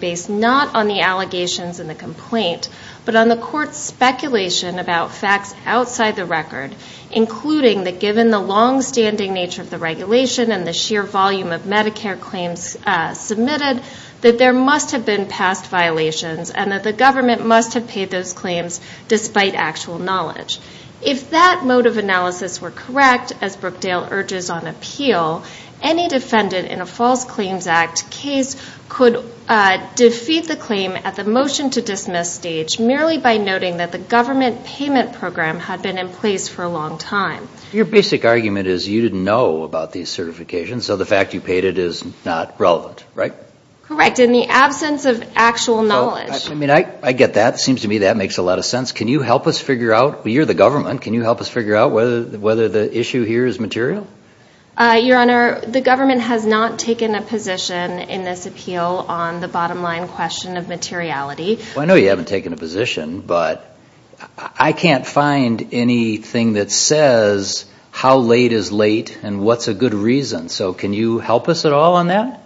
Based not on the allegations in the complaint, but on the court's speculation about facts outside the record, including that given the long-standing nature of the regulation and the sheer volume of Medicare claims submitted, that there must have been past violations and that the government must have paid those claims despite actual knowledge. If that mode of analysis were correct, as Brookdale urges on appeal, any defendant in a false claims act case could defeat the claim at the motion to dismiss stage merely by noting that the government payment program had been in place for a long time. Your basic argument is you didn't know about these certifications, so the fact you paid it is not relevant, right? Correct, in the absence of actual knowledge. I get that. It seems to me that makes a lot of sense. Can you help us figure out, you're the government, can you help us figure out whether the issue here is material? Your Honor, the government has not taken a position in this appeal on the bottom line question of materiality. I know you haven't taken a position, but I can't find anything that says how late is late and what's a good reason, so can you help us at all on that?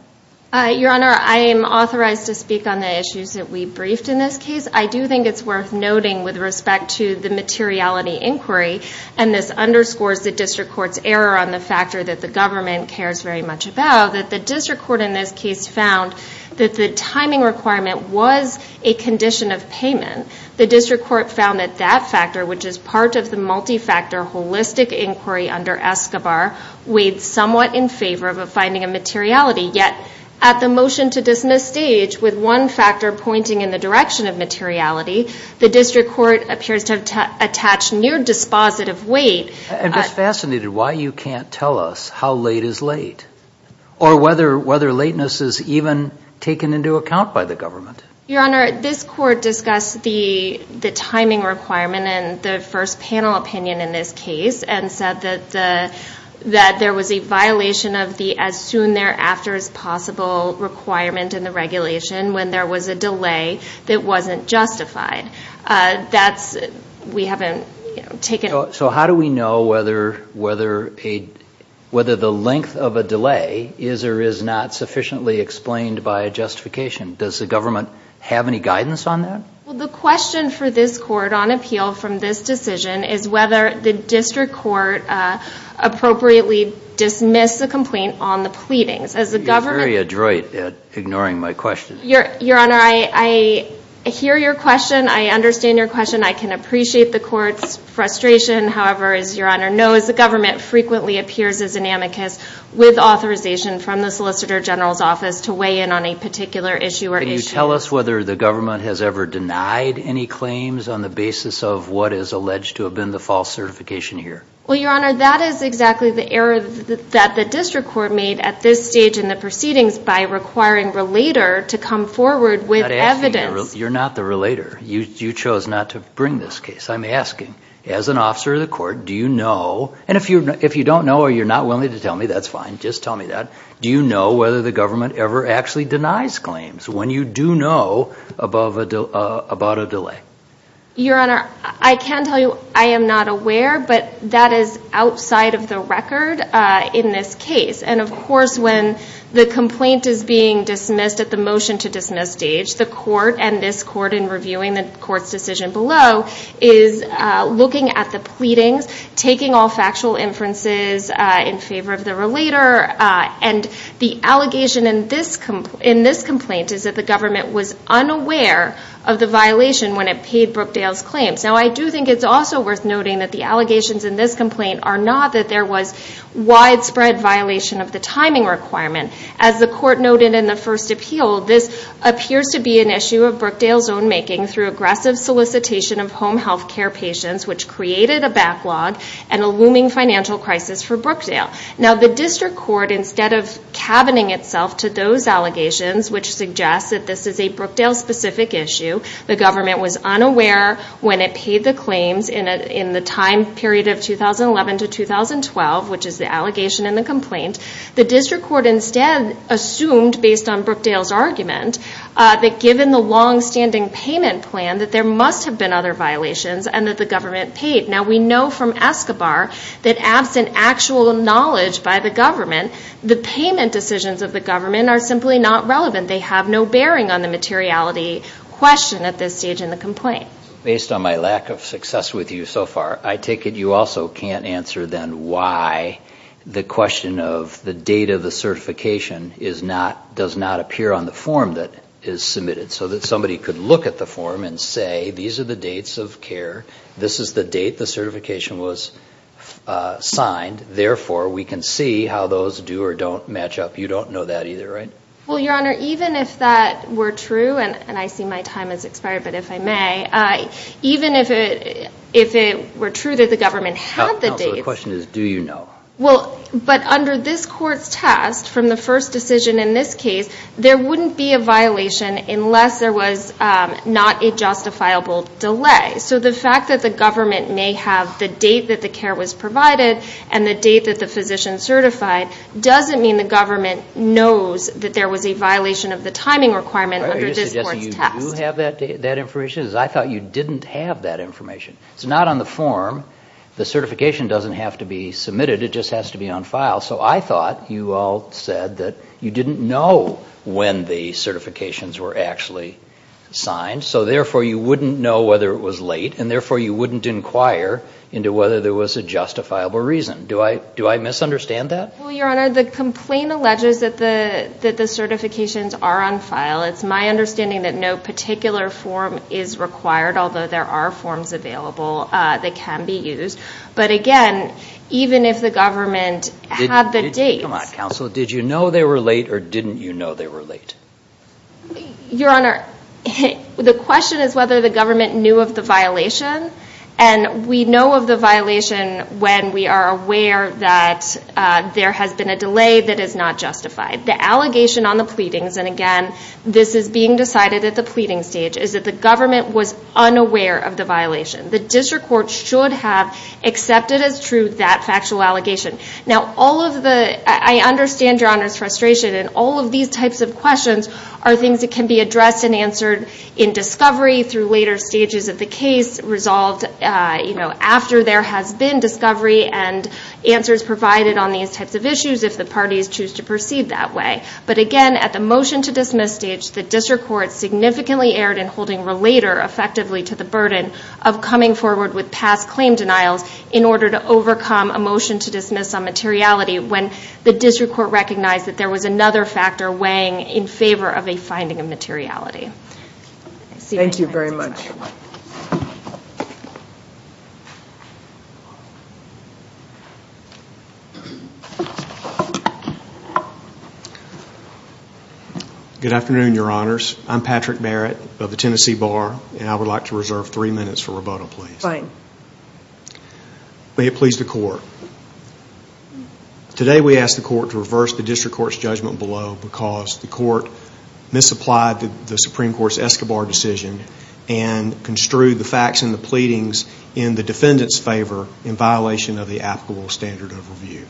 Your Honor, I am authorized to speak on the issues that we briefed in this case. I do think it's worth noting with respect to the materiality inquiry, and this underscores the district court's error on the factor that the government cares very much about, that the district court in this case found that the timing requirement was a condition of payment. The district court found that that factor, which is part of the multi-factor holistic inquiry under Escobar, weighed somewhat in favor of finding a materiality. Yet, at the motion to dismiss stage, with one factor pointing in the direction of materiality, the district court appears to have attached near-dispositive weight. I'm just fascinated why you can't tell us how late is late, or whether lateness is even taken into account by the government. Your Honor, this court discussed the timing requirement and the first panel opinion in this case, and said that there was a violation of the as-soon-thereafter-as-possible requirement in the regulation when there was a delay that wasn't justified. That's – we haven't taken – So how do we know whether the length of a delay is or is not sufficiently explained by a justification? Does the government have any guidance on that? Well, the question for this court on appeal from this decision is whether the district court appropriately dismissed the complaint on the pleadings. As the government – You're very adroit at ignoring my questions. Your Honor, I hear your question. I can appreciate the court's frustration. However, as Your Honor knows, the government frequently appears as an amicus with authorization from the Solicitor General's office to weigh in on a particular issue or issue. Can you tell us whether the government has ever denied any claims on the basis of what is alleged to have been the false certification here? Well, Your Honor, that is exactly the error that the district court made at this stage in the proceedings by requiring Relator to come forward with evidence. You're not the Relator. You chose not to bring this case. I'm asking, as an officer of the court, do you know – and if you don't know or you're not willing to tell me, that's fine. Just tell me that. Do you know whether the government ever actually denies claims when you do know about a delay? Your Honor, I can tell you I am not aware, but that is outside of the record in this case. And, of course, when the complaint is being dismissed at the motion-to-dismiss stage, the court and this court in reviewing the court's decision below is looking at the pleadings, taking all factual inferences in favor of the Relator. And the allegation in this complaint is that the government was unaware of the violation when it paid Brookdale's claims. Now, I do think it's also worth noting that the allegations in this complaint are not that there was widespread violation of the timing requirement. As the court noted in the first appeal, this appears to be an issue of Brookdale's own making through aggressive solicitation of home health care patients, which created a backlog and a looming financial crisis for Brookdale. Now, the district court, instead of cabining itself to those allegations, which suggests that this is a Brookdale-specific issue, the government was unaware when it paid the claims in the time period of 2011 to 2012, which is the allegation in the complaint. The district court instead assumed, based on Brookdale's argument, that given the long-standing payment plan, that there must have been other violations and that the government paid. Now, we know from Escobar that absent actual knowledge by the government, the payment decisions of the government are simply not relevant. They have no bearing on the materiality question at this stage in the complaint. Based on my lack of success with you so far, I take it you also can't answer then why the question of the date of the certification does not appear on the form that is submitted, so that somebody could look at the form and say, these are the dates of care. This is the date the certification was signed. Therefore, we can see how those do or don't match up. You don't know that either, right? Well, Your Honor, even if that were true, and I see my time has expired, but if I may, even if it were true that the government had the dates. The question is, do you know? Well, but under this court's test, from the first decision in this case, there wouldn't be a violation unless there was not a justifiable delay. So the fact that the government may have the date that the care was provided and the date that the physician certified, doesn't mean the government knows that there was a violation of the timing requirement under this court's test. Are you suggesting you do have that information? Because I thought you didn't have that information. It's not on the form. The certification doesn't have to be submitted. It just has to be on file. So I thought you all said that you didn't know when the certifications were actually signed. So therefore, you wouldn't know whether it was late. And therefore, you wouldn't inquire into whether there was a justifiable reason. Do I misunderstand that? Well, Your Honor, the complaint alleges that the certifications are on file. It's my understanding that no particular form is required, although there are forms available that can be used. But again, even if the government had the dates. Come on, counsel. Did you know they were late or didn't you know they were late? Your Honor, the question is whether the government knew of the violation. And we know of the violation when we are aware that there has been a delay that is not justified. The allegation on the pleadings, and again, this is being decided at the pleading stage, is that the government was unaware of the violation. The district court should have accepted as true that factual allegation. Now, I understand Your Honor's frustration. And all of these types of questions are things that can be addressed and answered in discovery through later stages of the case, resolved after there has been discovery and answers provided on these types of issues if the parties choose to proceed that way. But again, at the motion-to-dismiss stage, the district court significantly erred in holding relator effectively to the burden of coming forward with past claim denials in order to overcome a motion-to-dismiss on materiality when the district court recognized that there was another factor weighing in favor of a finding of materiality. Thank you very much. Good afternoon, Your Honors. I'm Patrick Barrett of the Tennessee Bar. And I would like to reserve three minutes for rebuttal, please. Fine. May it please the Court. Today, we ask the Court to reverse the district court's judgment below because the Court misapplied the Supreme Court's Escobar decision and construed the facts in the pleadings in the defendant's favor in violation of the applicable standard of review.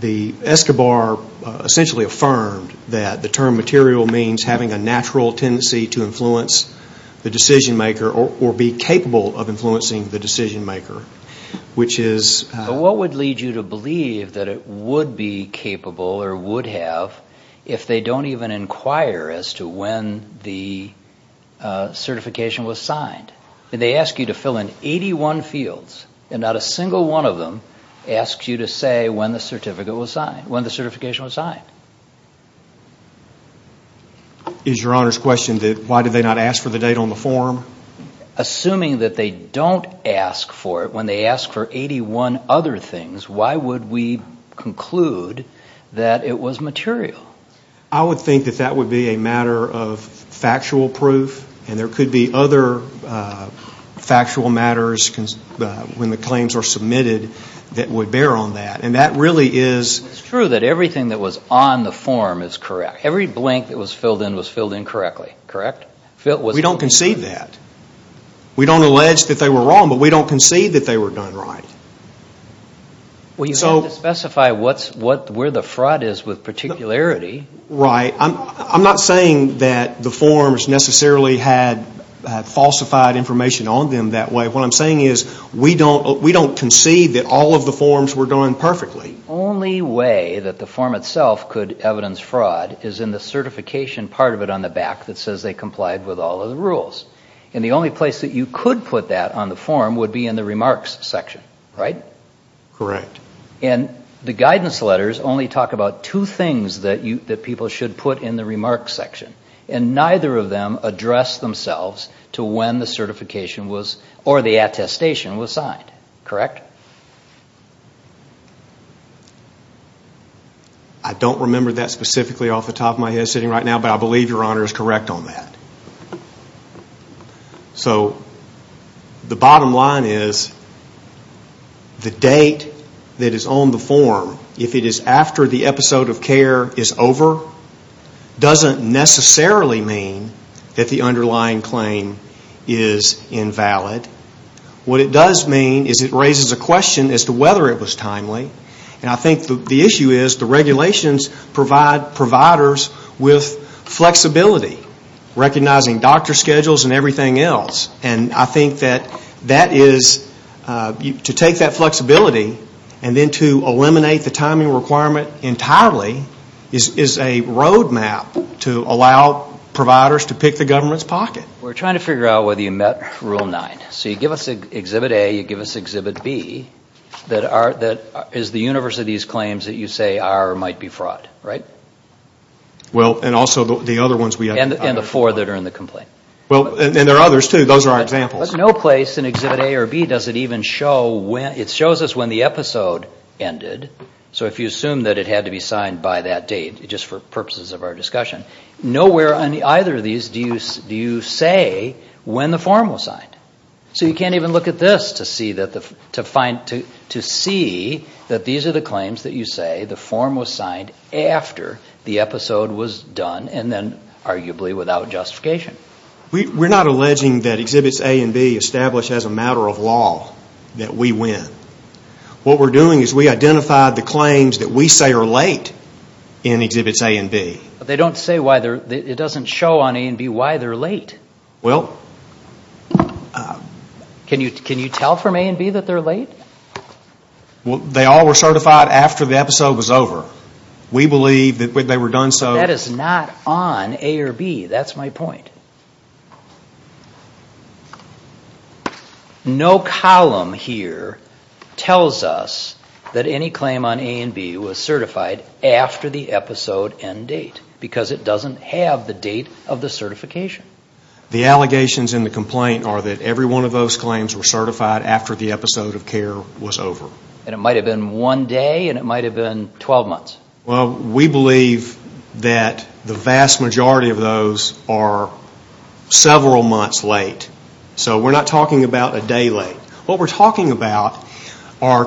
The Escobar essentially affirmed that the term material means having a natural tendency to influence the decision-maker or be capable of influencing the decision-maker, which is... What would lead you to believe that it would be capable or would have if they don't even inquire as to when the certification was signed? They ask you to fill in 81 fields, and not a single one of them asks you to say when the certification was signed. Is Your Honor's question that why did they not ask for the date on the form? Assuming that they don't ask for it when they ask for 81 other things, why would we conclude that it was material? I would think that that would be a matter of factual proof, and there could be other factual matters when the claims are submitted that would bear on that. And that really is... It's true that everything that was on the form is correct. Every blank that was filled in was filled in correctly, correct? We don't concede that. We don't allege that they were wrong, but we don't concede that they were done right. Well, you have to specify where the fraud is with particularity. Right. I'm not saying that the forms necessarily had falsified information on them that way. What I'm saying is we don't concede that all of the forms were done perfectly. The only way that the form itself could evidence fraud is in the certification part of it on the back that says they complied with all of the rules. And the only place that you could put that on the form would be in the remarks section, right? Correct. And the guidance letters only talk about two things that people should put in the remarks section, and neither of them address themselves to when the certification or the attestation was signed, correct? I don't remember that specifically off the top of my head sitting right now, but I believe Your Honor is correct on that. So the bottom line is the date that is on the form, if it is after the episode of care is over, doesn't necessarily mean that the underlying claim is invalid. What it does mean is it raises a question as to whether it was timely. And I think the issue is the regulations provide providers with flexibility, recognizing doctor schedules and everything else. And I think that that is to take that flexibility and then to eliminate the timing requirement entirely is a road map to allow providers to pick the government's pocket. We're trying to figure out whether you met Rule 9. So you give us Exhibit A, you give us Exhibit B. That is the universe of these claims that you say are or might be fraud, right? Well, and also the other ones we have. And the four that are in the complaint. Well, and there are others too. Those are our examples. But no place in Exhibit A or B does it even show when, it shows us when the episode ended. So if you assume that it had to be signed by that date, just for purposes of our discussion, nowhere on either of these do you say when the form was signed. So you can't even look at this to see that these are the claims that you say the form was signed after the episode was done and then arguably without justification. We're not alleging that Exhibits A and B establish as a matter of law that we win. What we're doing is we identified the claims that we say are late in Exhibits A and B. But they don't say why they're, it doesn't show on A and B why they're late. Well... Can you tell from A and B that they're late? Well, they all were certified after the episode was over. We believe that when they were done so... That is not on A or B. That's my point. Okay. No column here tells us that any claim on A and B was certified after the episode and date. Because it doesn't have the date of the certification. The allegations in the complaint are that every one of those claims were certified after the episode of care was over. And it might have been one day and it might have been 12 months. Well, we believe that the vast majority of those are several months late. So we're not talking about a day late. What we're talking about are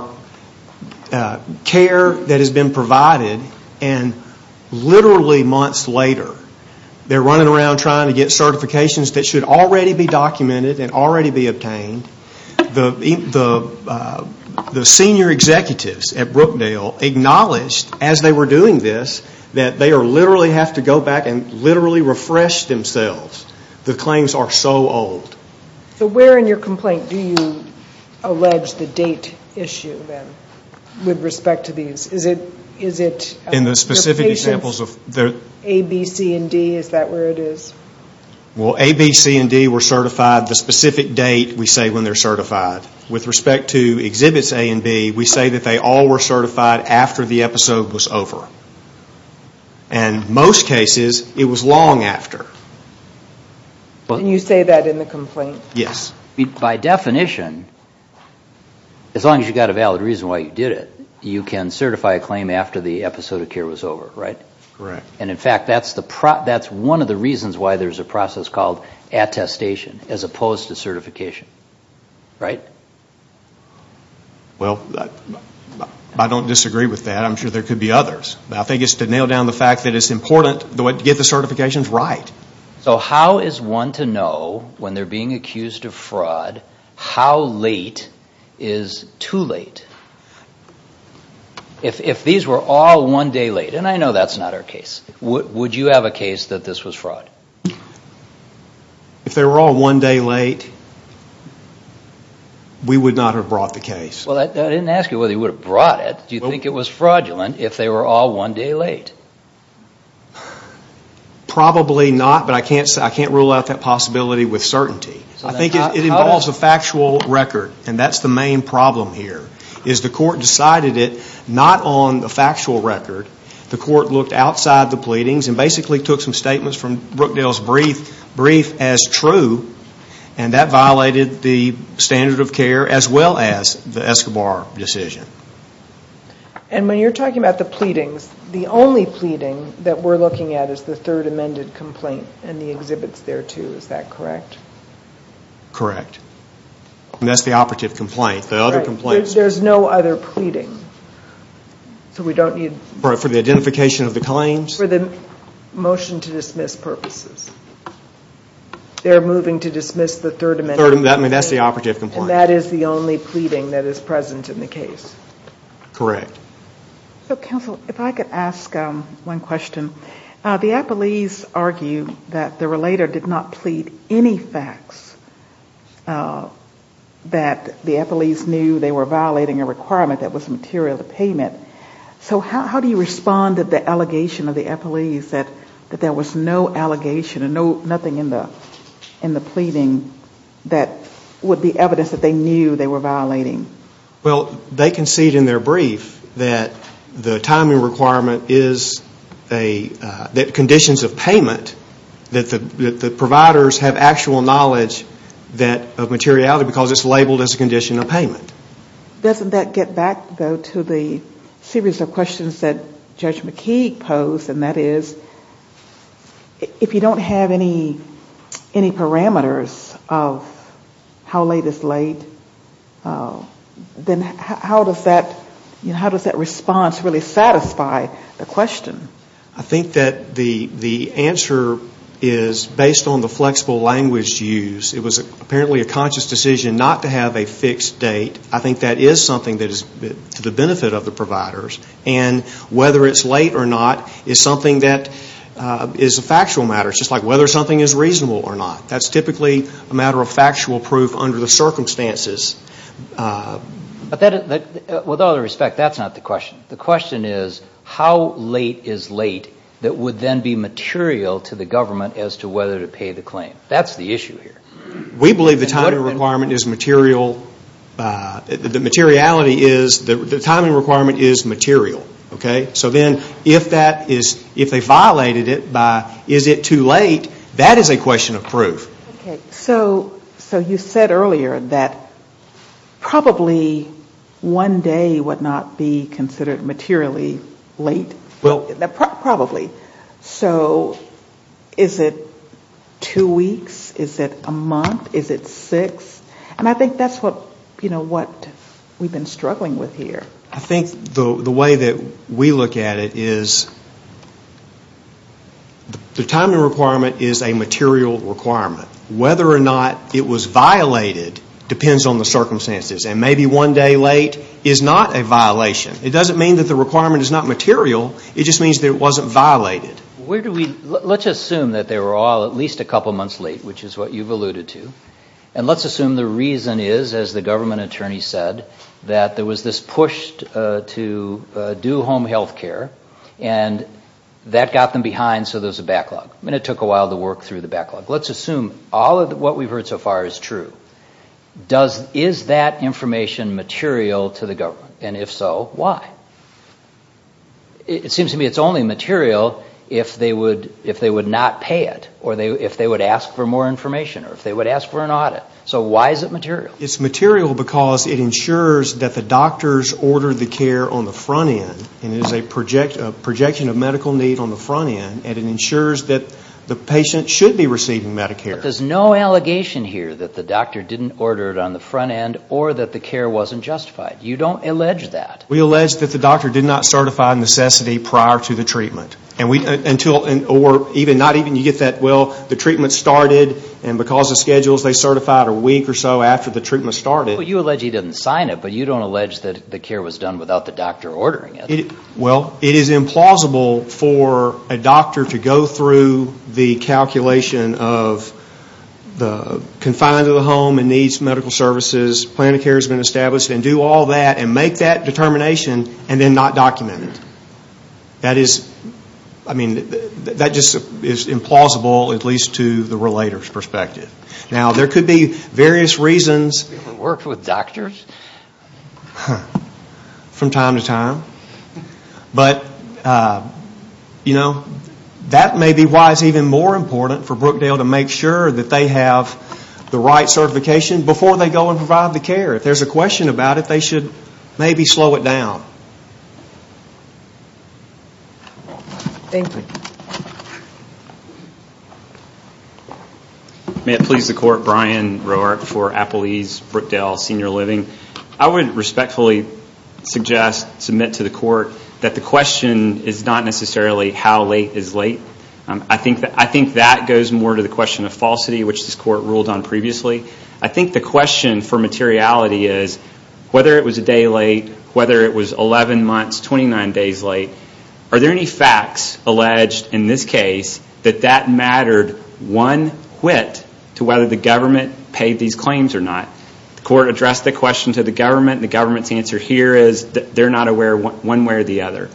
care that has been provided and literally months later, they're running around trying to get certifications that should already be documented and already be obtained. The senior executives at Brookdale acknowledged as they were doing this that they literally have to go back and literally refresh themselves. The claims are so old. So where in your complaint do you allege the date issue then with respect to these? Is it... In the specific examples of... A, B, C, and D, is that where it is? Well, A, B, C, and D were certified the specific date we say when they're certified. With respect to exhibits A and B, we say that they all were certified after the episode was over. And most cases, it was long after. And you say that in the complaint? Yes. By definition, as long as you've got a valid reason why you did it, you can certify a claim after the episode of care was over, right? Correct. And in fact, that's one of the reasons why there's a process called attestation as opposed to certification. Right? Well, I don't disagree with that. I'm sure there could be others. I think it's to nail down the fact that it's important to get the certifications right. So how is one to know when they're being accused of fraud, how late is too late? If these were all one day late, and I know that's not our case, would you have a case that this was fraud? If they were all one day late, we would not have brought the case. Well, I didn't ask you whether you would have brought it. Do you think it was fraudulent if they were all one day late? Probably not, but I can't rule out that possibility with certainty. I think it involves a factual record, and that's the main problem here. The court decided it not on the factual record. The court looked outside the pleadings and basically took some statements from Brookdale's brief as true, and that violated the standard of care as well as the Escobar decision. And when you're talking about the pleadings, the only pleading that we're looking at is the third amended complaint and the exhibits there, too. Is that correct? Correct. And that's the operative complaint. There's no other pleading. So we don't need... For the identification of the claims? For the motion to dismiss purposes. They're moving to dismiss the third amendment. That's the operative complaint. And that is the only pleading that is present in the case. Correct. So, counsel, if I could ask one question. The appellees argue that the relator did not plead any facts, that the appellees knew they were violating a requirement that was material to payment. So how do you respond to the allegation of the appellees that there was no allegation and nothing in the pleading that would be evidence that they knew they were violating? Well, they concede in their brief that the timing requirement is a condition of payment, that the providers have actual knowledge of materiality because it's labeled as a condition of payment. Doesn't that get back, though, to the series of questions that Judge McKeague posed, and that is if you don't have any parameters of how late is late, then how does that response really satisfy the question? I think that the answer is based on the flexible language used. It was apparently a conscious decision not to have a fixed date. I think that is something that is to the benefit of the providers. And whether it's late or not is something that is a factual matter. It's just like whether something is reasonable or not. That's typically a matter of factual proof under the circumstances. But with all due respect, that's not the question. The question is how late is late that would then be material to the government as to whether to pay the claim. That's the issue here. We believe the timing requirement is material. The materiality is the timing requirement is material. So then if they violated it by is it too late, that is a question of proof. So you said earlier that probably one day would not be considered materially late. Probably. So is it two weeks? Is it a month? Is it six? And I think that's what we've been struggling with here. I think the way that we look at it is the timing requirement is a material requirement. Whether or not it was violated depends on the circumstances. And maybe one day late is not a violation. It doesn't mean that the requirement is not material. It just means that it wasn't violated. Let's assume that they were all at least a couple months late, which is what you've alluded to. And let's assume the reason is, as the government attorney said, that there was this push to do home health care and that got them behind so there's a backlog. And it took a while to work through the backlog. Let's assume all of what we've heard so far is true. Is that information material to the government? And if so, why? It seems to me it's only material if they would not pay it or if they would ask for more information or if they would ask for an audit. So why is it material? It's material because it ensures that the doctors order the care on the front end and it is a projection of medical need on the front end and it ensures that the patient should be receiving Medicare. But there's no allegation here that the doctor didn't order it on the front end or that the care wasn't justified. You don't allege that. We allege that the doctor did not certify necessity prior to the treatment. Not even you get that, well, the treatment started and because of schedules they certified a week or so after the treatment started. Well, you allege he didn't sign it, but you don't allege that the care was done without the doctor ordering it. Well, it is implausible for a doctor to go through the calculation of the confines of the home and needs medical services, plan of care has been established and do all that and make that determination and then not document it. That is, I mean, that just is implausible at least to the relator's perspective. Now, there could be various reasons. Worked with doctors? From time to time. But, you know, that may be why it's even more important for Brookdale to make sure that they have the right certification before they go and provide the care. If there's a question about it, they should maybe slow it down. Thank you. May it please the Court, Brian Roark for Apple East Brookdale Senior Living. I would respectfully suggest, submit to the Court, that the question is not necessarily how late is late. I think that goes more to the question of falsity, which this Court ruled on previously. I think the question for materiality is whether it was a day late, whether it was 11 months, 29 days late. Are there any facts alleged in this case that that mattered one whit to whether the government paid these claims or not? The Court addressed the question to the government. The government's answer here is they're not aware one way or the other.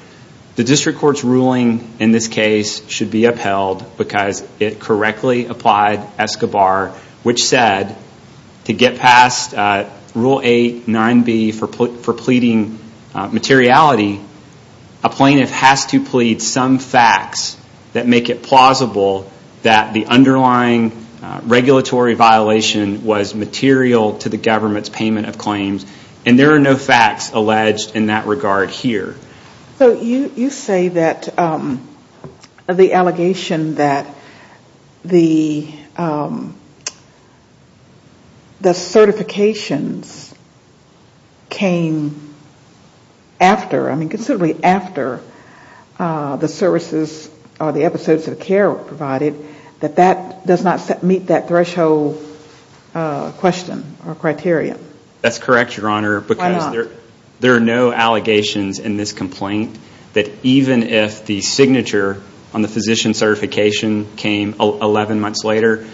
The district court's ruling in this case should be upheld because it correctly applied ESCOBAR, which said to get past Rule 8.9b for pleading materiality, a plaintiff has to plead some facts that make it plausible that the underlying regulatory violation was material to the government's payment of claims. There are no facts alleged in that regard here. You say that the allegation that the certifications came after, I mean considerably after the services or the episodes of care were provided, that that does not meet that threshold question or criterion. That's correct, Your Honor. Why not? There are no allegations in this complaint that even if the signature on the physician certification came 11 months later,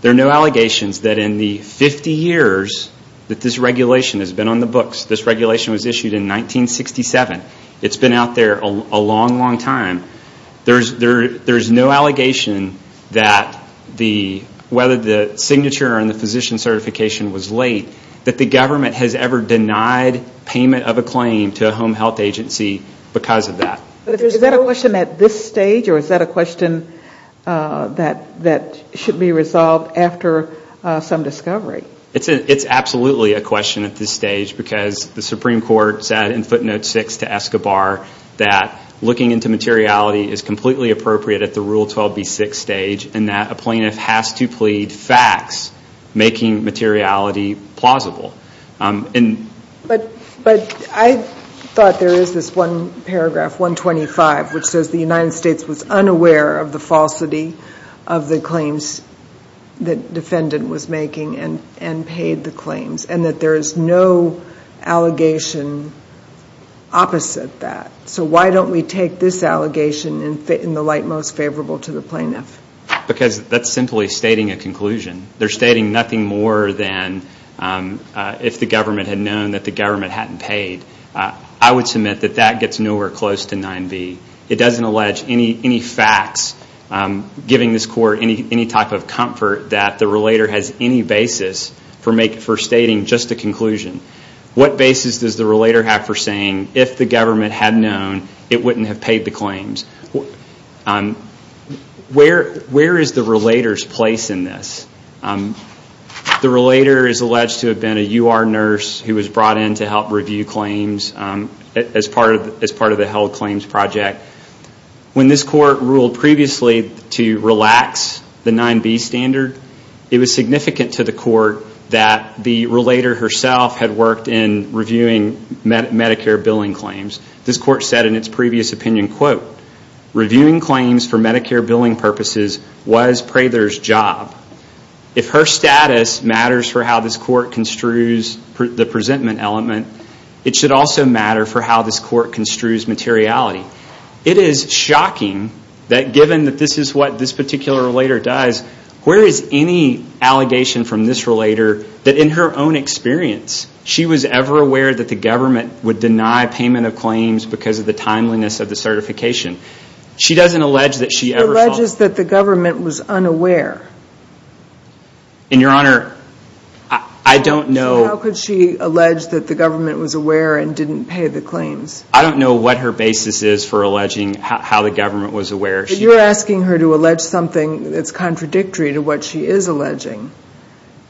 there are no allegations that in the 50 years that this regulation has been on the books. This regulation was issued in 1967. It's been out there a long, long time. There's no allegation that whether the signature on the physician certification was late, that the government has ever denied payment of a claim to a home health agency because of that. Is that a question at this stage, or is that a question that should be resolved after some discovery? It's absolutely a question at this stage because the Supreme Court said in footnote 6 to ESCOBAR that looking into materiality is completely appropriate at the Rule 12b6 stage and that a plaintiff has to plead facts making materiality plausible. But I thought there is this one paragraph, 125, which says the United States was unaware of the falsity of the claims that defendant was making and paid the claims and that there is no allegation opposite that. So why don't we take this allegation and fit in the light most favorable to the plaintiff? Because that's simply stating a conclusion. They're stating nothing more than if the government had known that the government hadn't paid. I would submit that that gets nowhere close to 9b. It doesn't allege any facts giving this Court any type of comfort that the relator has any basis for stating just a conclusion. What basis does the relator have for saying if the government had known, it wouldn't have paid the claims? Where is the relator's place in this? The relator is alleged to have been a UR nurse who was brought in to help review claims as part of the held claims project. When this Court ruled previously to relax the 9b standard, it was significant to the Court that the relator herself had worked in reviewing Medicare billing claims. This Court said in its previous opinion, reviewing claims for Medicare billing purposes was Prather's job. If her status matters for how this Court construes the presentment element, it should also matter for how this Court construes materiality. It is shocking that given that this is what this particular relator does, where is any allegation from this relator that in her own experience, she was ever aware that the government would deny payment of claims because of the timeliness of the certification? She doesn't allege that she ever thought... She alleges that the government was unaware. And Your Honor, I don't know... So how could she allege that the government was aware and didn't pay the claims? I don't know what her basis is for alleging how the government was aware. But you're asking her to allege something that's contradictory to what she is alleging.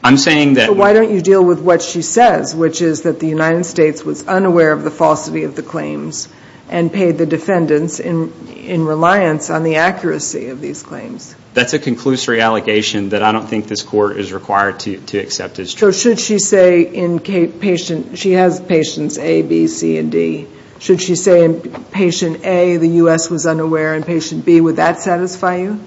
I'm saying that... So why don't you deal with what she says, which is that the United States was unaware of the falsity of the claims and paid the defendants in reliance on the accuracy of these claims. That's a conclusory allegation that I don't think this Court is required to accept as true. So should she say in patient... She has patients A, B, C, and D. Should she say in patient A, the U.S. was unaware, and patient B, would that satisfy you?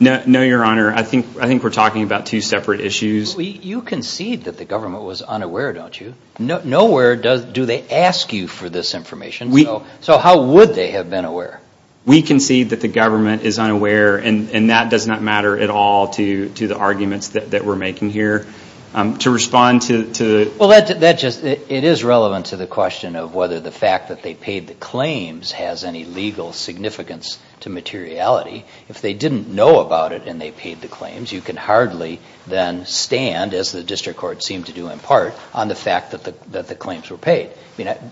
No, Your Honor. I think we're talking about two separate issues. You concede that the government was unaware, don't you? Nowhere do they ask you for this information. So how would they have been aware? We concede that the government is unaware, and that does not matter at all to the arguments that we're making here. To respond to... Well, that just... It is relevant to the question of whether the fact that they paid the claims has any legal significance to materiality. If they didn't know about it and they paid the claims, you can hardly then stand, as the District Court seemed to do in part, on the fact that the claims were paid.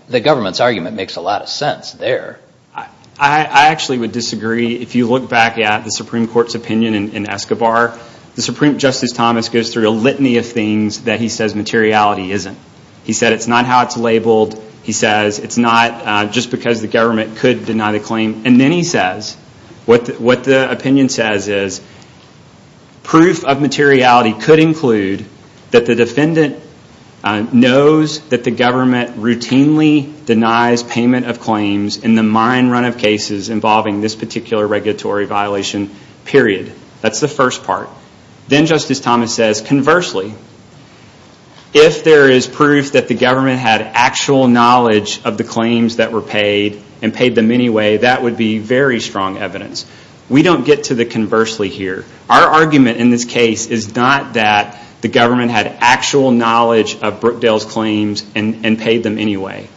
The government's argument makes a lot of sense there. I actually would disagree. If you look back at the Supreme Court's opinion in Escobar, the Supreme Justice Thomas goes through a litany of things that he says materiality isn't. He said it's not how it's labeled. He says it's not just because the government could deny the claim. And then he says, what the opinion says is, proof of materiality could include that the defendant knows that the government routinely denies payment of claims in the mine run of cases involving this particular regulatory violation, period. That's the first part. Then Justice Thomas says, conversely, if there is proof that the government had actual knowledge of the claims that were paid and paid them anyway, that would be very strong evidence. We don't get to the conversely here. Our argument in this case is not that the government had actual knowledge of Brookdale's claims and paid them anyway.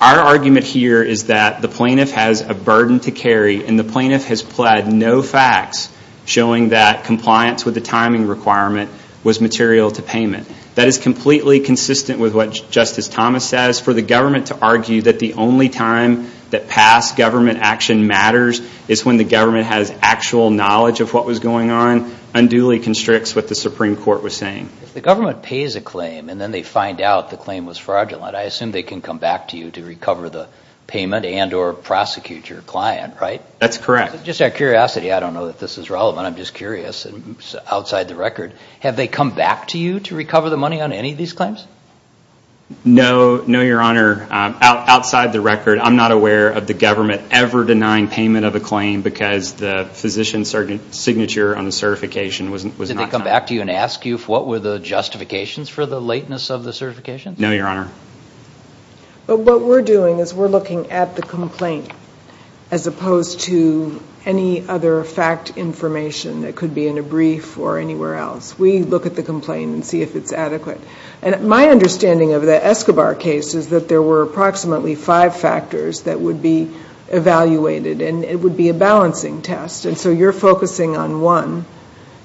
Our argument here is that the plaintiff has a burden to carry and the plaintiff has pled no facts showing that compliance with the timing requirement was material to payment. That is completely consistent with what Justice Thomas says. For the government to argue that the only time that past government action matters is when the government has actual knowledge of what was going on, unduly constricts what the Supreme Court was saying. If the government pays a claim and then they find out the claim was fraudulent, I assume they can come back to you to recover the payment and or prosecute your client, right? That's correct. Just out of curiosity, I don't know if this is relevant. I'm just curious. Outside the record, have they come back to you to recover the money on any of these claims? No, Your Honor. Outside the record, I'm not aware of the government ever denying payment of a claim because the physician's signature on the certification was not signed. Did they come back to you and ask you what were the justifications for the lateness of the certification? No, Your Honor. But what we're doing is we're looking at the complaint as opposed to any other fact information that could be in a brief or anywhere else. We look at the complaint and see if it's adequate. My understanding of the Escobar case is that there were approximately five factors that would be evaluated, and it would be a balancing test. So you're focusing on one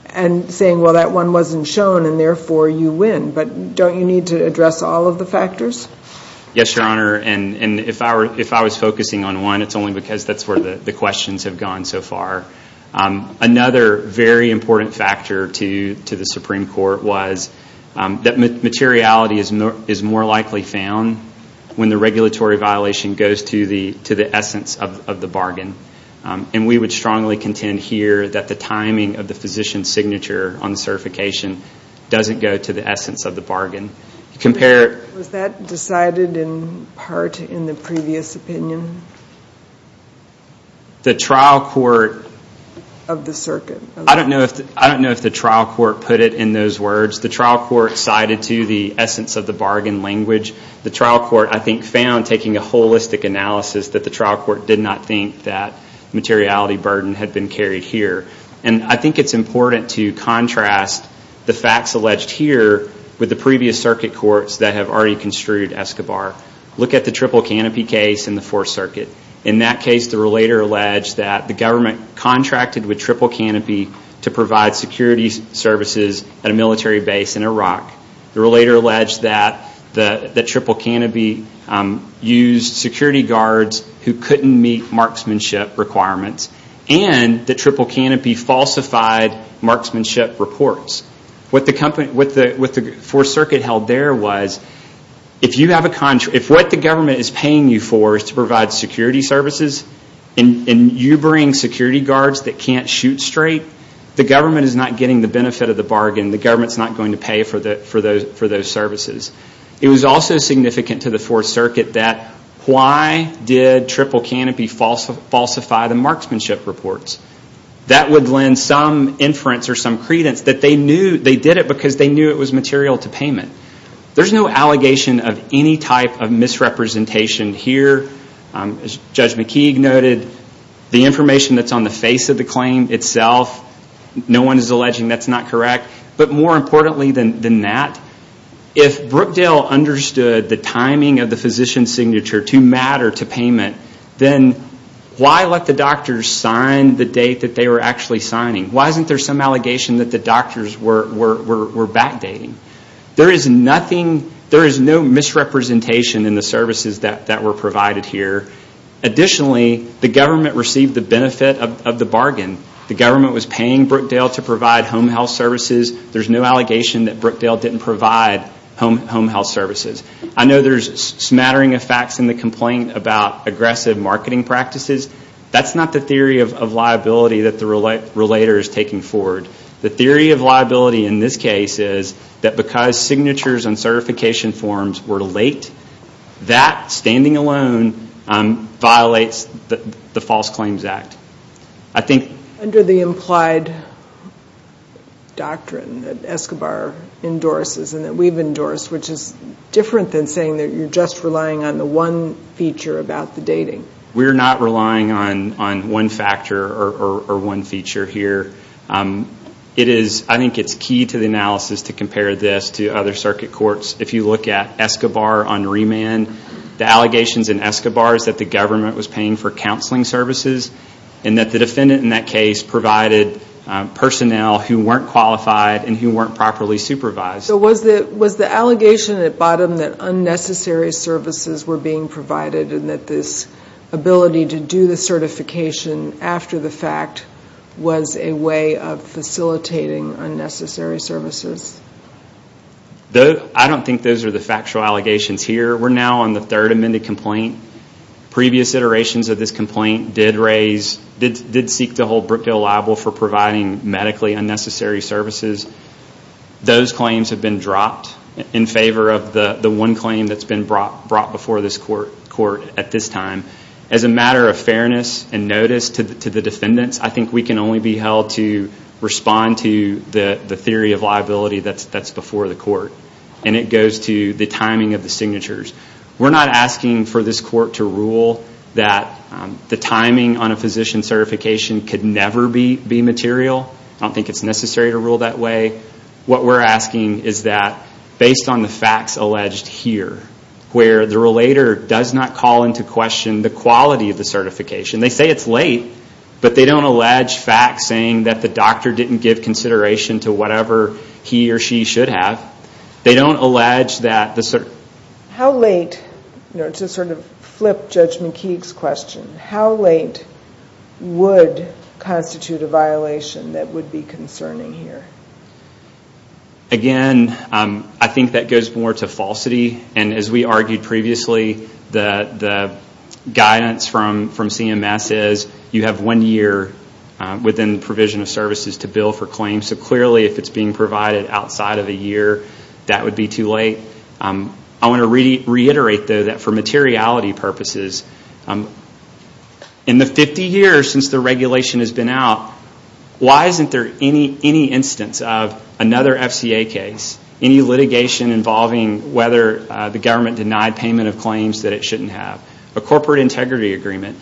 and saying, well, that one wasn't shown, and therefore you win. But don't you need to address all of the factors? Yes, Your Honor, and if I was focusing on one, it's only because that's where the questions have gone so far. Another very important factor to the Supreme Court was that materiality is more likely found when the regulatory violation goes to the essence of the bargain. And we would strongly contend here that the timing of the physician's signature on the certification doesn't go to the essence of the bargain. Was that decided in part in the previous opinion? The trial court of the circuit. I don't know if the trial court put it in those words. The trial court cited to the essence of the bargain language. The trial court, I think, found, taking a holistic analysis, that the trial court did not think that materiality burden had been carried here. And I think it's important to contrast the facts alleged here with the previous circuit courts that have already construed Escobar. Look at the triple canopy case in the Fourth Circuit. In that case, the relator alleged that the government contracted with triple canopy to provide security services at a military base in Iraq. The relator alleged that the triple canopy used security guards who couldn't meet marksmanship requirements. And the triple canopy falsified marksmanship reports. What the Fourth Circuit held there was, if what the government is paying you for is to provide security services and you bring security guards that can't shoot straight, the government is not getting the benefit of the bargain. The government is not going to pay for those services. It was also significant to the Fourth Circuit that, why did triple canopy falsify the marksmanship reports? That would lend some inference or some credence that they did it because they knew it was material to payment. There's no allegation of any type of misrepresentation here. As Judge McKeague noted, the information that's on the face of the claim itself, no one is alleging that's not correct. But more importantly than that, if Brookdale understood the timing of the physician's signature to matter to payment, then why let the doctors sign the date that they were actually signing? Why isn't there some allegation that the doctors were backdating? There is no misrepresentation in the services that were provided here. Additionally, the government received the benefit of the bargain. The government was paying Brookdale to provide home health services. There's no allegation that Brookdale didn't provide home health services. I know there's smattering of facts in the complaint about aggressive marketing practices. That's not the theory of liability that the relator is taking forward. The theory of liability in this case is that because signatures and certification forms were late, under the implied doctrine that Escobar endorses and that we've endorsed, which is different than saying that you're just relying on the one feature about the dating. We're not relying on one factor or one feature here. I think it's key to the analysis to compare this to other circuit courts. The allegations in Escobar is that the government was paying for counseling services and that the defendant in that case provided personnel who weren't qualified and who weren't properly supervised. Was the allegation at bottom that unnecessary services were being provided and that this ability to do the certification after the fact was a way of facilitating unnecessary services? I don't think those are the factual allegations here. We're now on the third amended complaint. Previous iterations of this complaint did seek to hold Brookdale liable for providing medically unnecessary services. Those claims have been dropped in favor of the one claim that's been brought before this court at this time. As a matter of fairness and notice to the defendants, I think we can only be held to respond to the theory of liability that's before the court. It goes to the timing of the signatures. We're not asking for this court to rule that the timing on a physician's certification could never be material. I don't think it's necessary to rule that way. What we're asking is that based on the facts alleged here, where the relator does not call into question the quality of the certification. They say it's late, but they don't allege facts saying that the doctor didn't give consideration to whatever he or she should have. They don't allege that the... How late, to flip Judge McKeague's question, how late would constitute a violation that would be concerning here? Again, I think that goes more to falsity. As we argued previously, the guidance from CMS is you have one year within the provision of services to bill for claims. Clearly, if it's being provided outside of a year, that would be too late. I want to reiterate, though, that for materiality purposes, in the 50 years since the regulation has been out, why isn't there any instance of another FCA case, any litigation involving whether the government denied payment of claims that it shouldn't have, a corporate integrity agreement?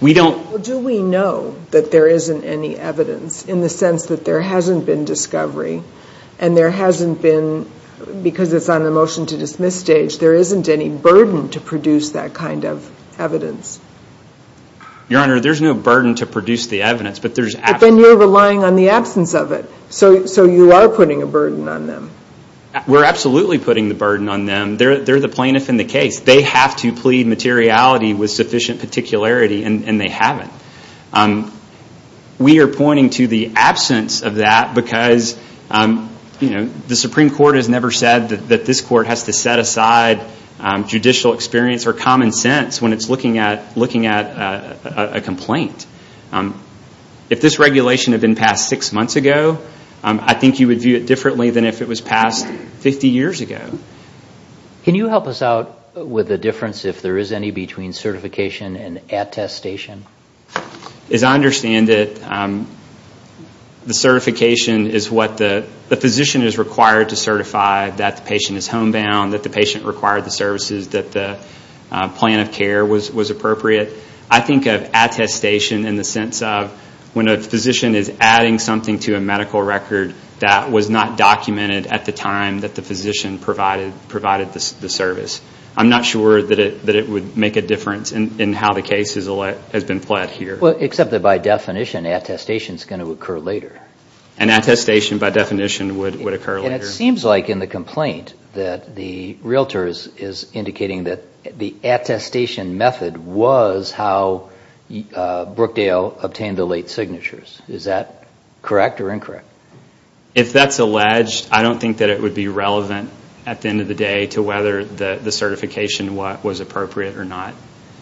We don't... Do we know that there isn't any evidence in the sense that there hasn't been discovery and there hasn't been, because it's on the motion to dismiss stage, there isn't any burden to produce that kind of evidence? Your Honor, there's no burden to produce the evidence, but there's... But then you're relying on the absence of it. So you are putting a burden on them. We're absolutely putting the burden on them. They're the plaintiff in the case. They have to plead materiality with sufficient particularity, and they haven't. We are pointing to the absence of that because the Supreme Court has never said that this court has to set aside judicial experience or common sense when it's looking at a complaint. If this regulation had been passed six months ago, I think you would view it differently than if it was passed 50 years ago. Can you help us out with the difference if there is any between certification and attestation? As I understand it, the certification is what the physician is required to certify, that the patient is homebound, that the patient required the services, that the plan of care was appropriate. I think of attestation in the sense of when a physician is adding something to a medical record that was not documented at the time that the physician provided the service. I'm not sure that it would make a difference in how the case has been pled here. Except that by definition, attestation is going to occur later. An attestation, by definition, would occur later. It seems like in the complaint that the realtor is indicating that the attestation method was how Brookdale obtained the late signatures. Is that correct or incorrect? If that's alleged, I don't think that it would be relevant at the end of the day to whether the certification was appropriate or not.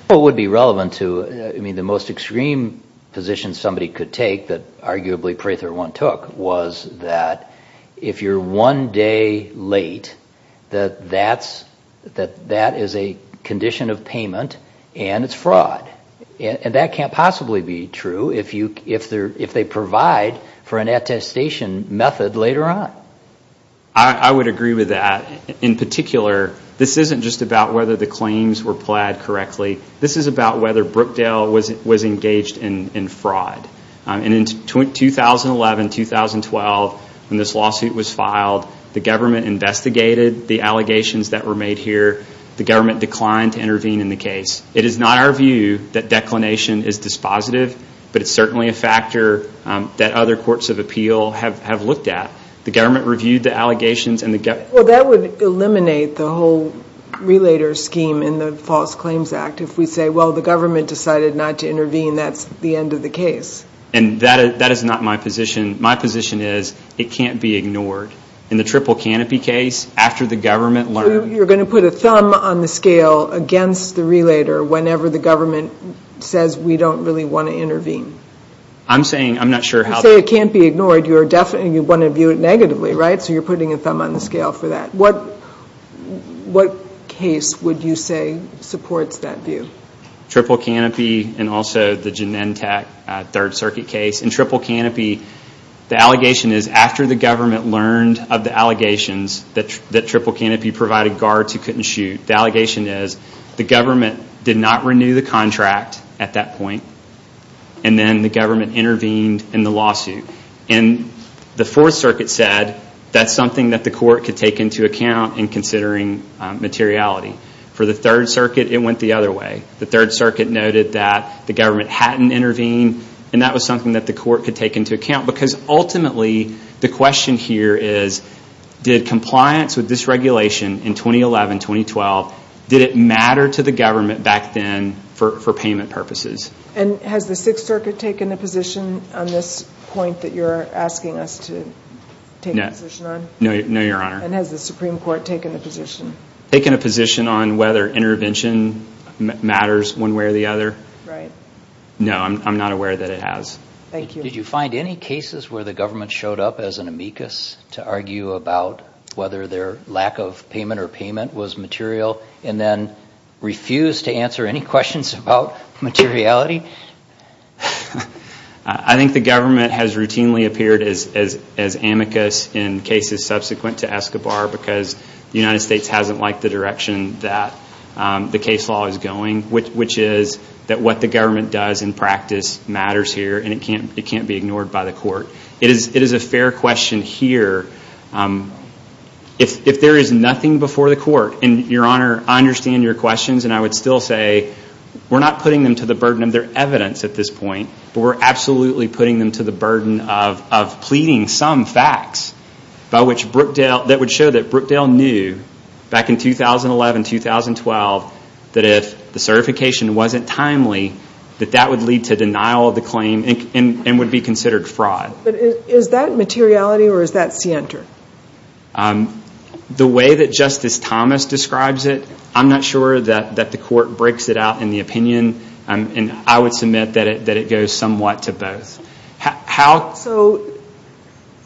What would be relevant to, I mean, the most extreme position somebody could take that arguably Prather One took was that if you're one day late, that that is a condition of payment and it's fraud. And that can't possibly be true if they provide for an attestation method later on. I would agree with that. In particular, this isn't just about whether the claims were pled correctly. This is about whether Brookdale was engaged in fraud. And in 2011, 2012, when this lawsuit was filed, the government investigated the allegations that were made here. The government declined to intervene in the case. It is not our view that declination is dispositive, but it's certainly a factor that other courts of appeal have looked at. The government reviewed the allegations. Well, that would eliminate the whole relator scheme in the False Claims Act. If we say, well, the government decided not to intervene, that's the end of the case. And that is not my position. My position is it can't be ignored. In the Triple Canopy case, after the government learned. You're going to put a thumb on the scale against the relator whenever the government says we don't really want to intervene. I'm saying I'm not sure how. You say it can't be ignored. You want to view it negatively, right? So you're putting a thumb on the scale for that. What case would you say supports that view? Triple Canopy and also the Genentech Third Circuit case. In Triple Canopy, the allegation is after the government learned of the allegations that Triple Canopy provided guards who couldn't shoot, the allegation is the government did not renew the contract at that point and then the government intervened in the lawsuit. The Fourth Circuit said that's something that the court could take into account in considering materiality. For the Third Circuit, it went the other way. The Third Circuit noted that the government hadn't intervened and that was something that the court could take into account because ultimately the question here is, did compliance with this regulation in 2011, 2012, did it matter to the government back then for payment purposes? And has the Sixth Circuit taken a position on this point that you're asking us to take a position on? No, Your Honor. And has the Supreme Court taken a position? Taken a position on whether intervention matters one way or the other? Right. No, I'm not aware that it has. Thank you. Did you find any cases where the government showed up as an amicus to argue about whether their lack of payment or payment was material and then refused to answer any questions about materiality? I think the government has routinely appeared as amicus in cases subsequent to Escobar because the United States hasn't liked the direction that the case law is going, which is that what the government does in practice matters here and it can't be ignored by the court. It is a fair question here. If there is nothing before the court, and Your Honor, I understand your questions and I would still say we're not putting them to the burden of their evidence at this point, but we're absolutely putting them to the burden of pleading some facts that would show that Brookdale knew back in 2011, 2012, that if the certification wasn't timely, that that would lead to denial of the claim and would be considered fraud. But is that materiality or is that scienter? The way that Justice Thomas describes it, I'm not sure that the court breaks it out in the opinion, and I would submit that it goes somewhat to both. So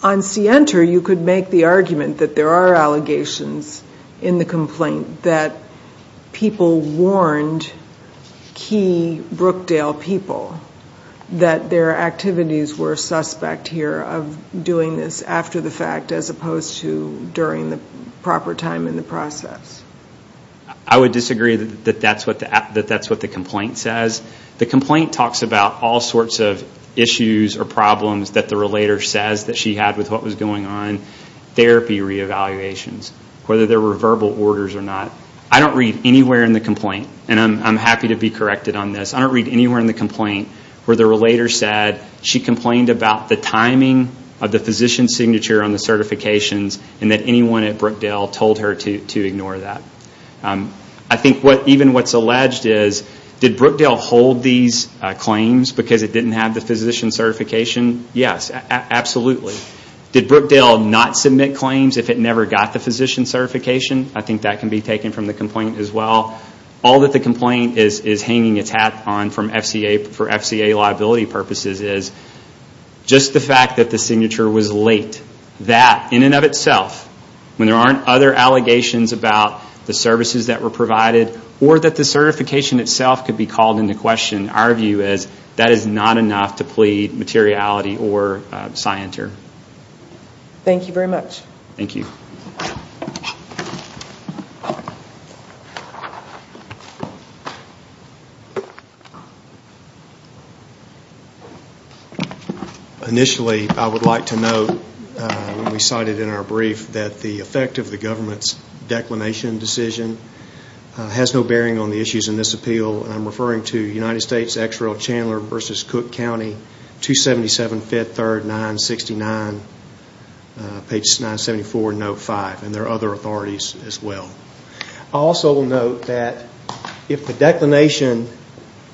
on scienter you could make the argument that there are allegations in the complaint that people warned key Brookdale people that their activities were suspect here of doing this after the fact as opposed to during the proper time in the process. I would disagree that that's what the complaint says. The complaint talks about all sorts of issues or problems that the relator says that she had with what was going on, therapy re-evaluations, whether they were verbal orders or not. I don't read anywhere in the complaint, and I'm happy to be corrected on this, I don't read anywhere in the complaint where the relator said she complained about the timing of the physician's signature on the certifications and that anyone at Brookdale told her to ignore that. I think even what's alleged is, did Brookdale hold these claims because it didn't have the physician's certification? Yes, absolutely. Did Brookdale not submit claims if it never got the physician's certification? I think that can be taken from the complaint as well. All that the complaint is hanging its hat on for FCA liability purposes is just the fact that the signature was late, that in and of itself, when there aren't other allegations about the services that were provided or that the certification itself could be called into question, our view is that is not enough to plead materiality or scienter. Thank you very much. Thank you. Initially, I would like to note, we cited in our brief, that the effect of the government's declination decision has no bearing on the issues in this appeal. I'm referring to United States X-Ray Chandler v. Cook County, 277, 5th, 3rd, 969, page 974, note 5. There are other authorities as well. I'll also note that if the declination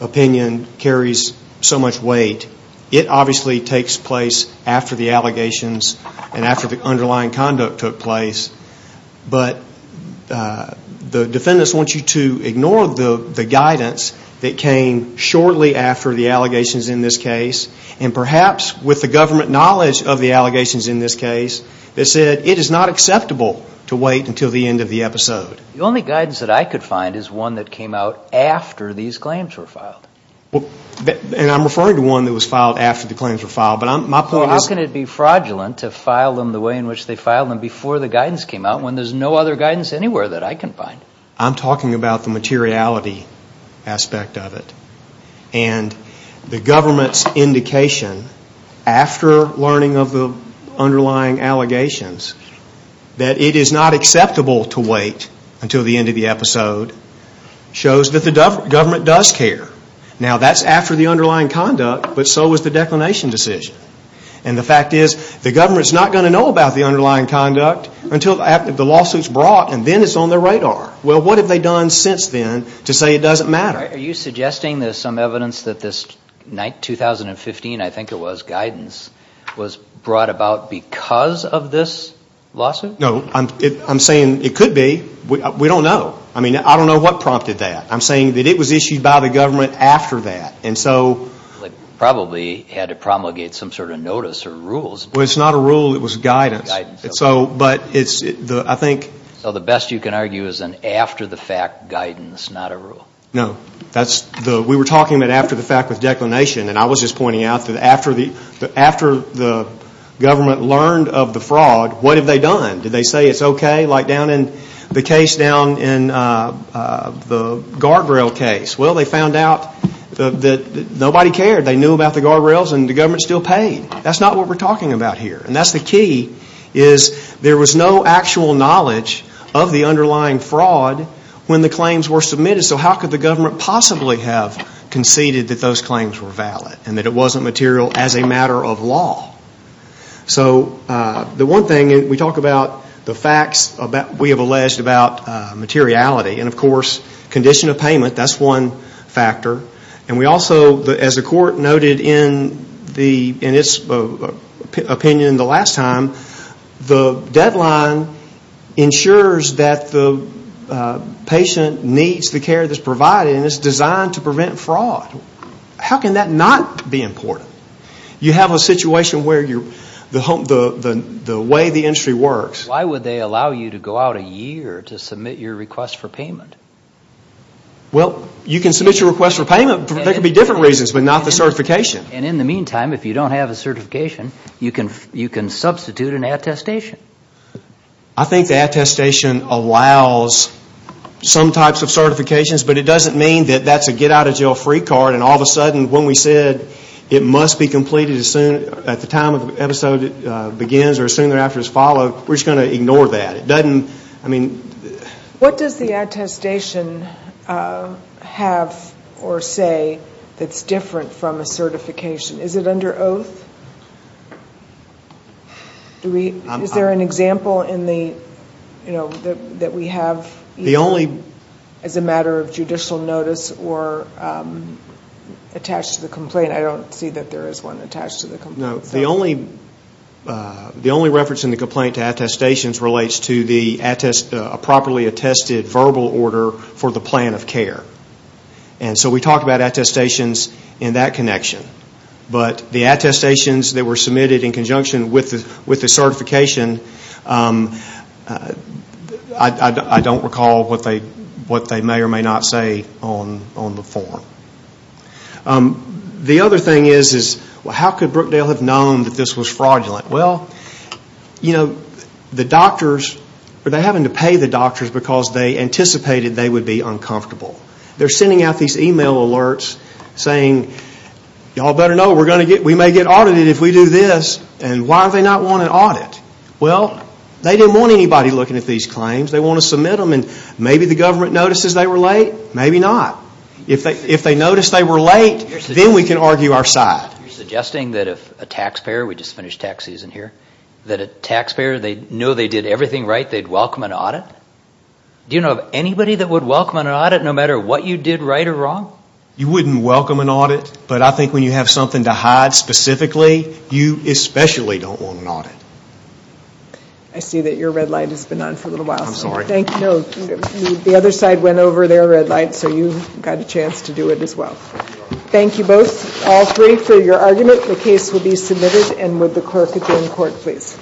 opinion carries so much weight, it obviously takes place after the allegations and after the underlying conduct took place. But the defendants want you to ignore the guidance that came shortly after the allegations in this case, and perhaps with the government knowledge of the allegations in this case, that said it is not acceptable to wait until the end of the episode. The only guidance that I could find is one that came out after these claims were filed. And I'm referring to one that was filed after the claims were filed. Well, how can it be fraudulent to file them the way in which they filed them before the guidance came out when there's no other guidance anywhere that I can find? I'm talking about the materiality aspect of it. And the government's indication after learning of the underlying allegations that it is not acceptable to wait until the end of the episode shows that the government does care. Now, that's after the underlying conduct, but so was the declination decision. And the fact is, the government's not going to know about the underlying conduct until the lawsuit's brought and then it's on their radar. Well, what have they done since then to say it doesn't matter? Are you suggesting there's some evidence that this 2015, I think it was, guidance was brought about because of this lawsuit? No. I'm saying it could be. We don't know. I mean, I don't know what prompted that. I'm saying that it was issued by the government after that. They probably had to promulgate some sort of notice or rules. Well, it's not a rule. It was guidance. So the best you can argue is an after-the-fact guidance, not a rule. No. We were talking about after-the-fact with declination. And I was just pointing out that after the government learned of the fraud, what have they done? Did they say it's okay like down in the case down in the guardrail case? Well, they found out that nobody cared. They knew about the guardrails and the government still paid. That's not what we're talking about here. And that's the key is there was no actual knowledge of the underlying fraud when the claims were submitted. So how could the government possibly have conceded that those claims were valid and that it wasn't material as a matter of law? So the one thing we talk about the facts we have alleged about materiality and, of course, condition of payment. That's one factor. And we also, as the court noted in its opinion the last time, the deadline ensures that the patient needs the care that's provided and it's designed to prevent fraud. How can that not be important? You have a situation where the way the industry works. Why would they allow you to go out a year to submit your request for payment? Well, you can submit your request for payment. There could be different reasons but not the certification. And in the meantime, if you don't have a certification, you can substitute an attestation. I think the attestation allows some types of certifications but it doesn't mean that that's a get-out-of-jail-free card and all of a sudden when we said it must be completed at the time the episode begins or as soon thereafter as followed, we're just going to ignore that. What does the attestation have or say that's different from a certification? Is it under oath? Is there an example that we have as a matter of judicial notice or attached to the complaint? I don't see that there is one attached to the complaint. No. The only reference in the complaint to attestations relates to the properly attested verbal order for the plan of care. And so we talk about attestations in that connection. But the attestations that were submitted in conjunction with the certification, I don't recall what they may or may not say on the form. The other thing is, how could Brookdale have known that this was fraudulent? The doctors were having to pay the doctors because they anticipated they would be uncomfortable. They're sending out these email alerts saying, y'all better know we may get audited if we do this. And why do they not want an audit? Well, they didn't want anybody looking at these claims. They want to submit them and maybe the government notices they were late. Maybe not. If they notice they were late, then we can argue our side. You're suggesting that if a taxpayer, we just finished tax season here, that a taxpayer, they know they did everything right, they'd welcome an audit? Do you know of anybody that would welcome an audit no matter what you did right or wrong? You wouldn't welcome an audit, but I think when you have something to hide specifically, you especially don't want an audit. I see that your red light has been on for a little while. I'm sorry. No, the other side went over their red light, so you've got a chance to do it as well. Thank you both, all three, for your argument. The case will be submitted. And would the clerk at the end court, please. Thank you.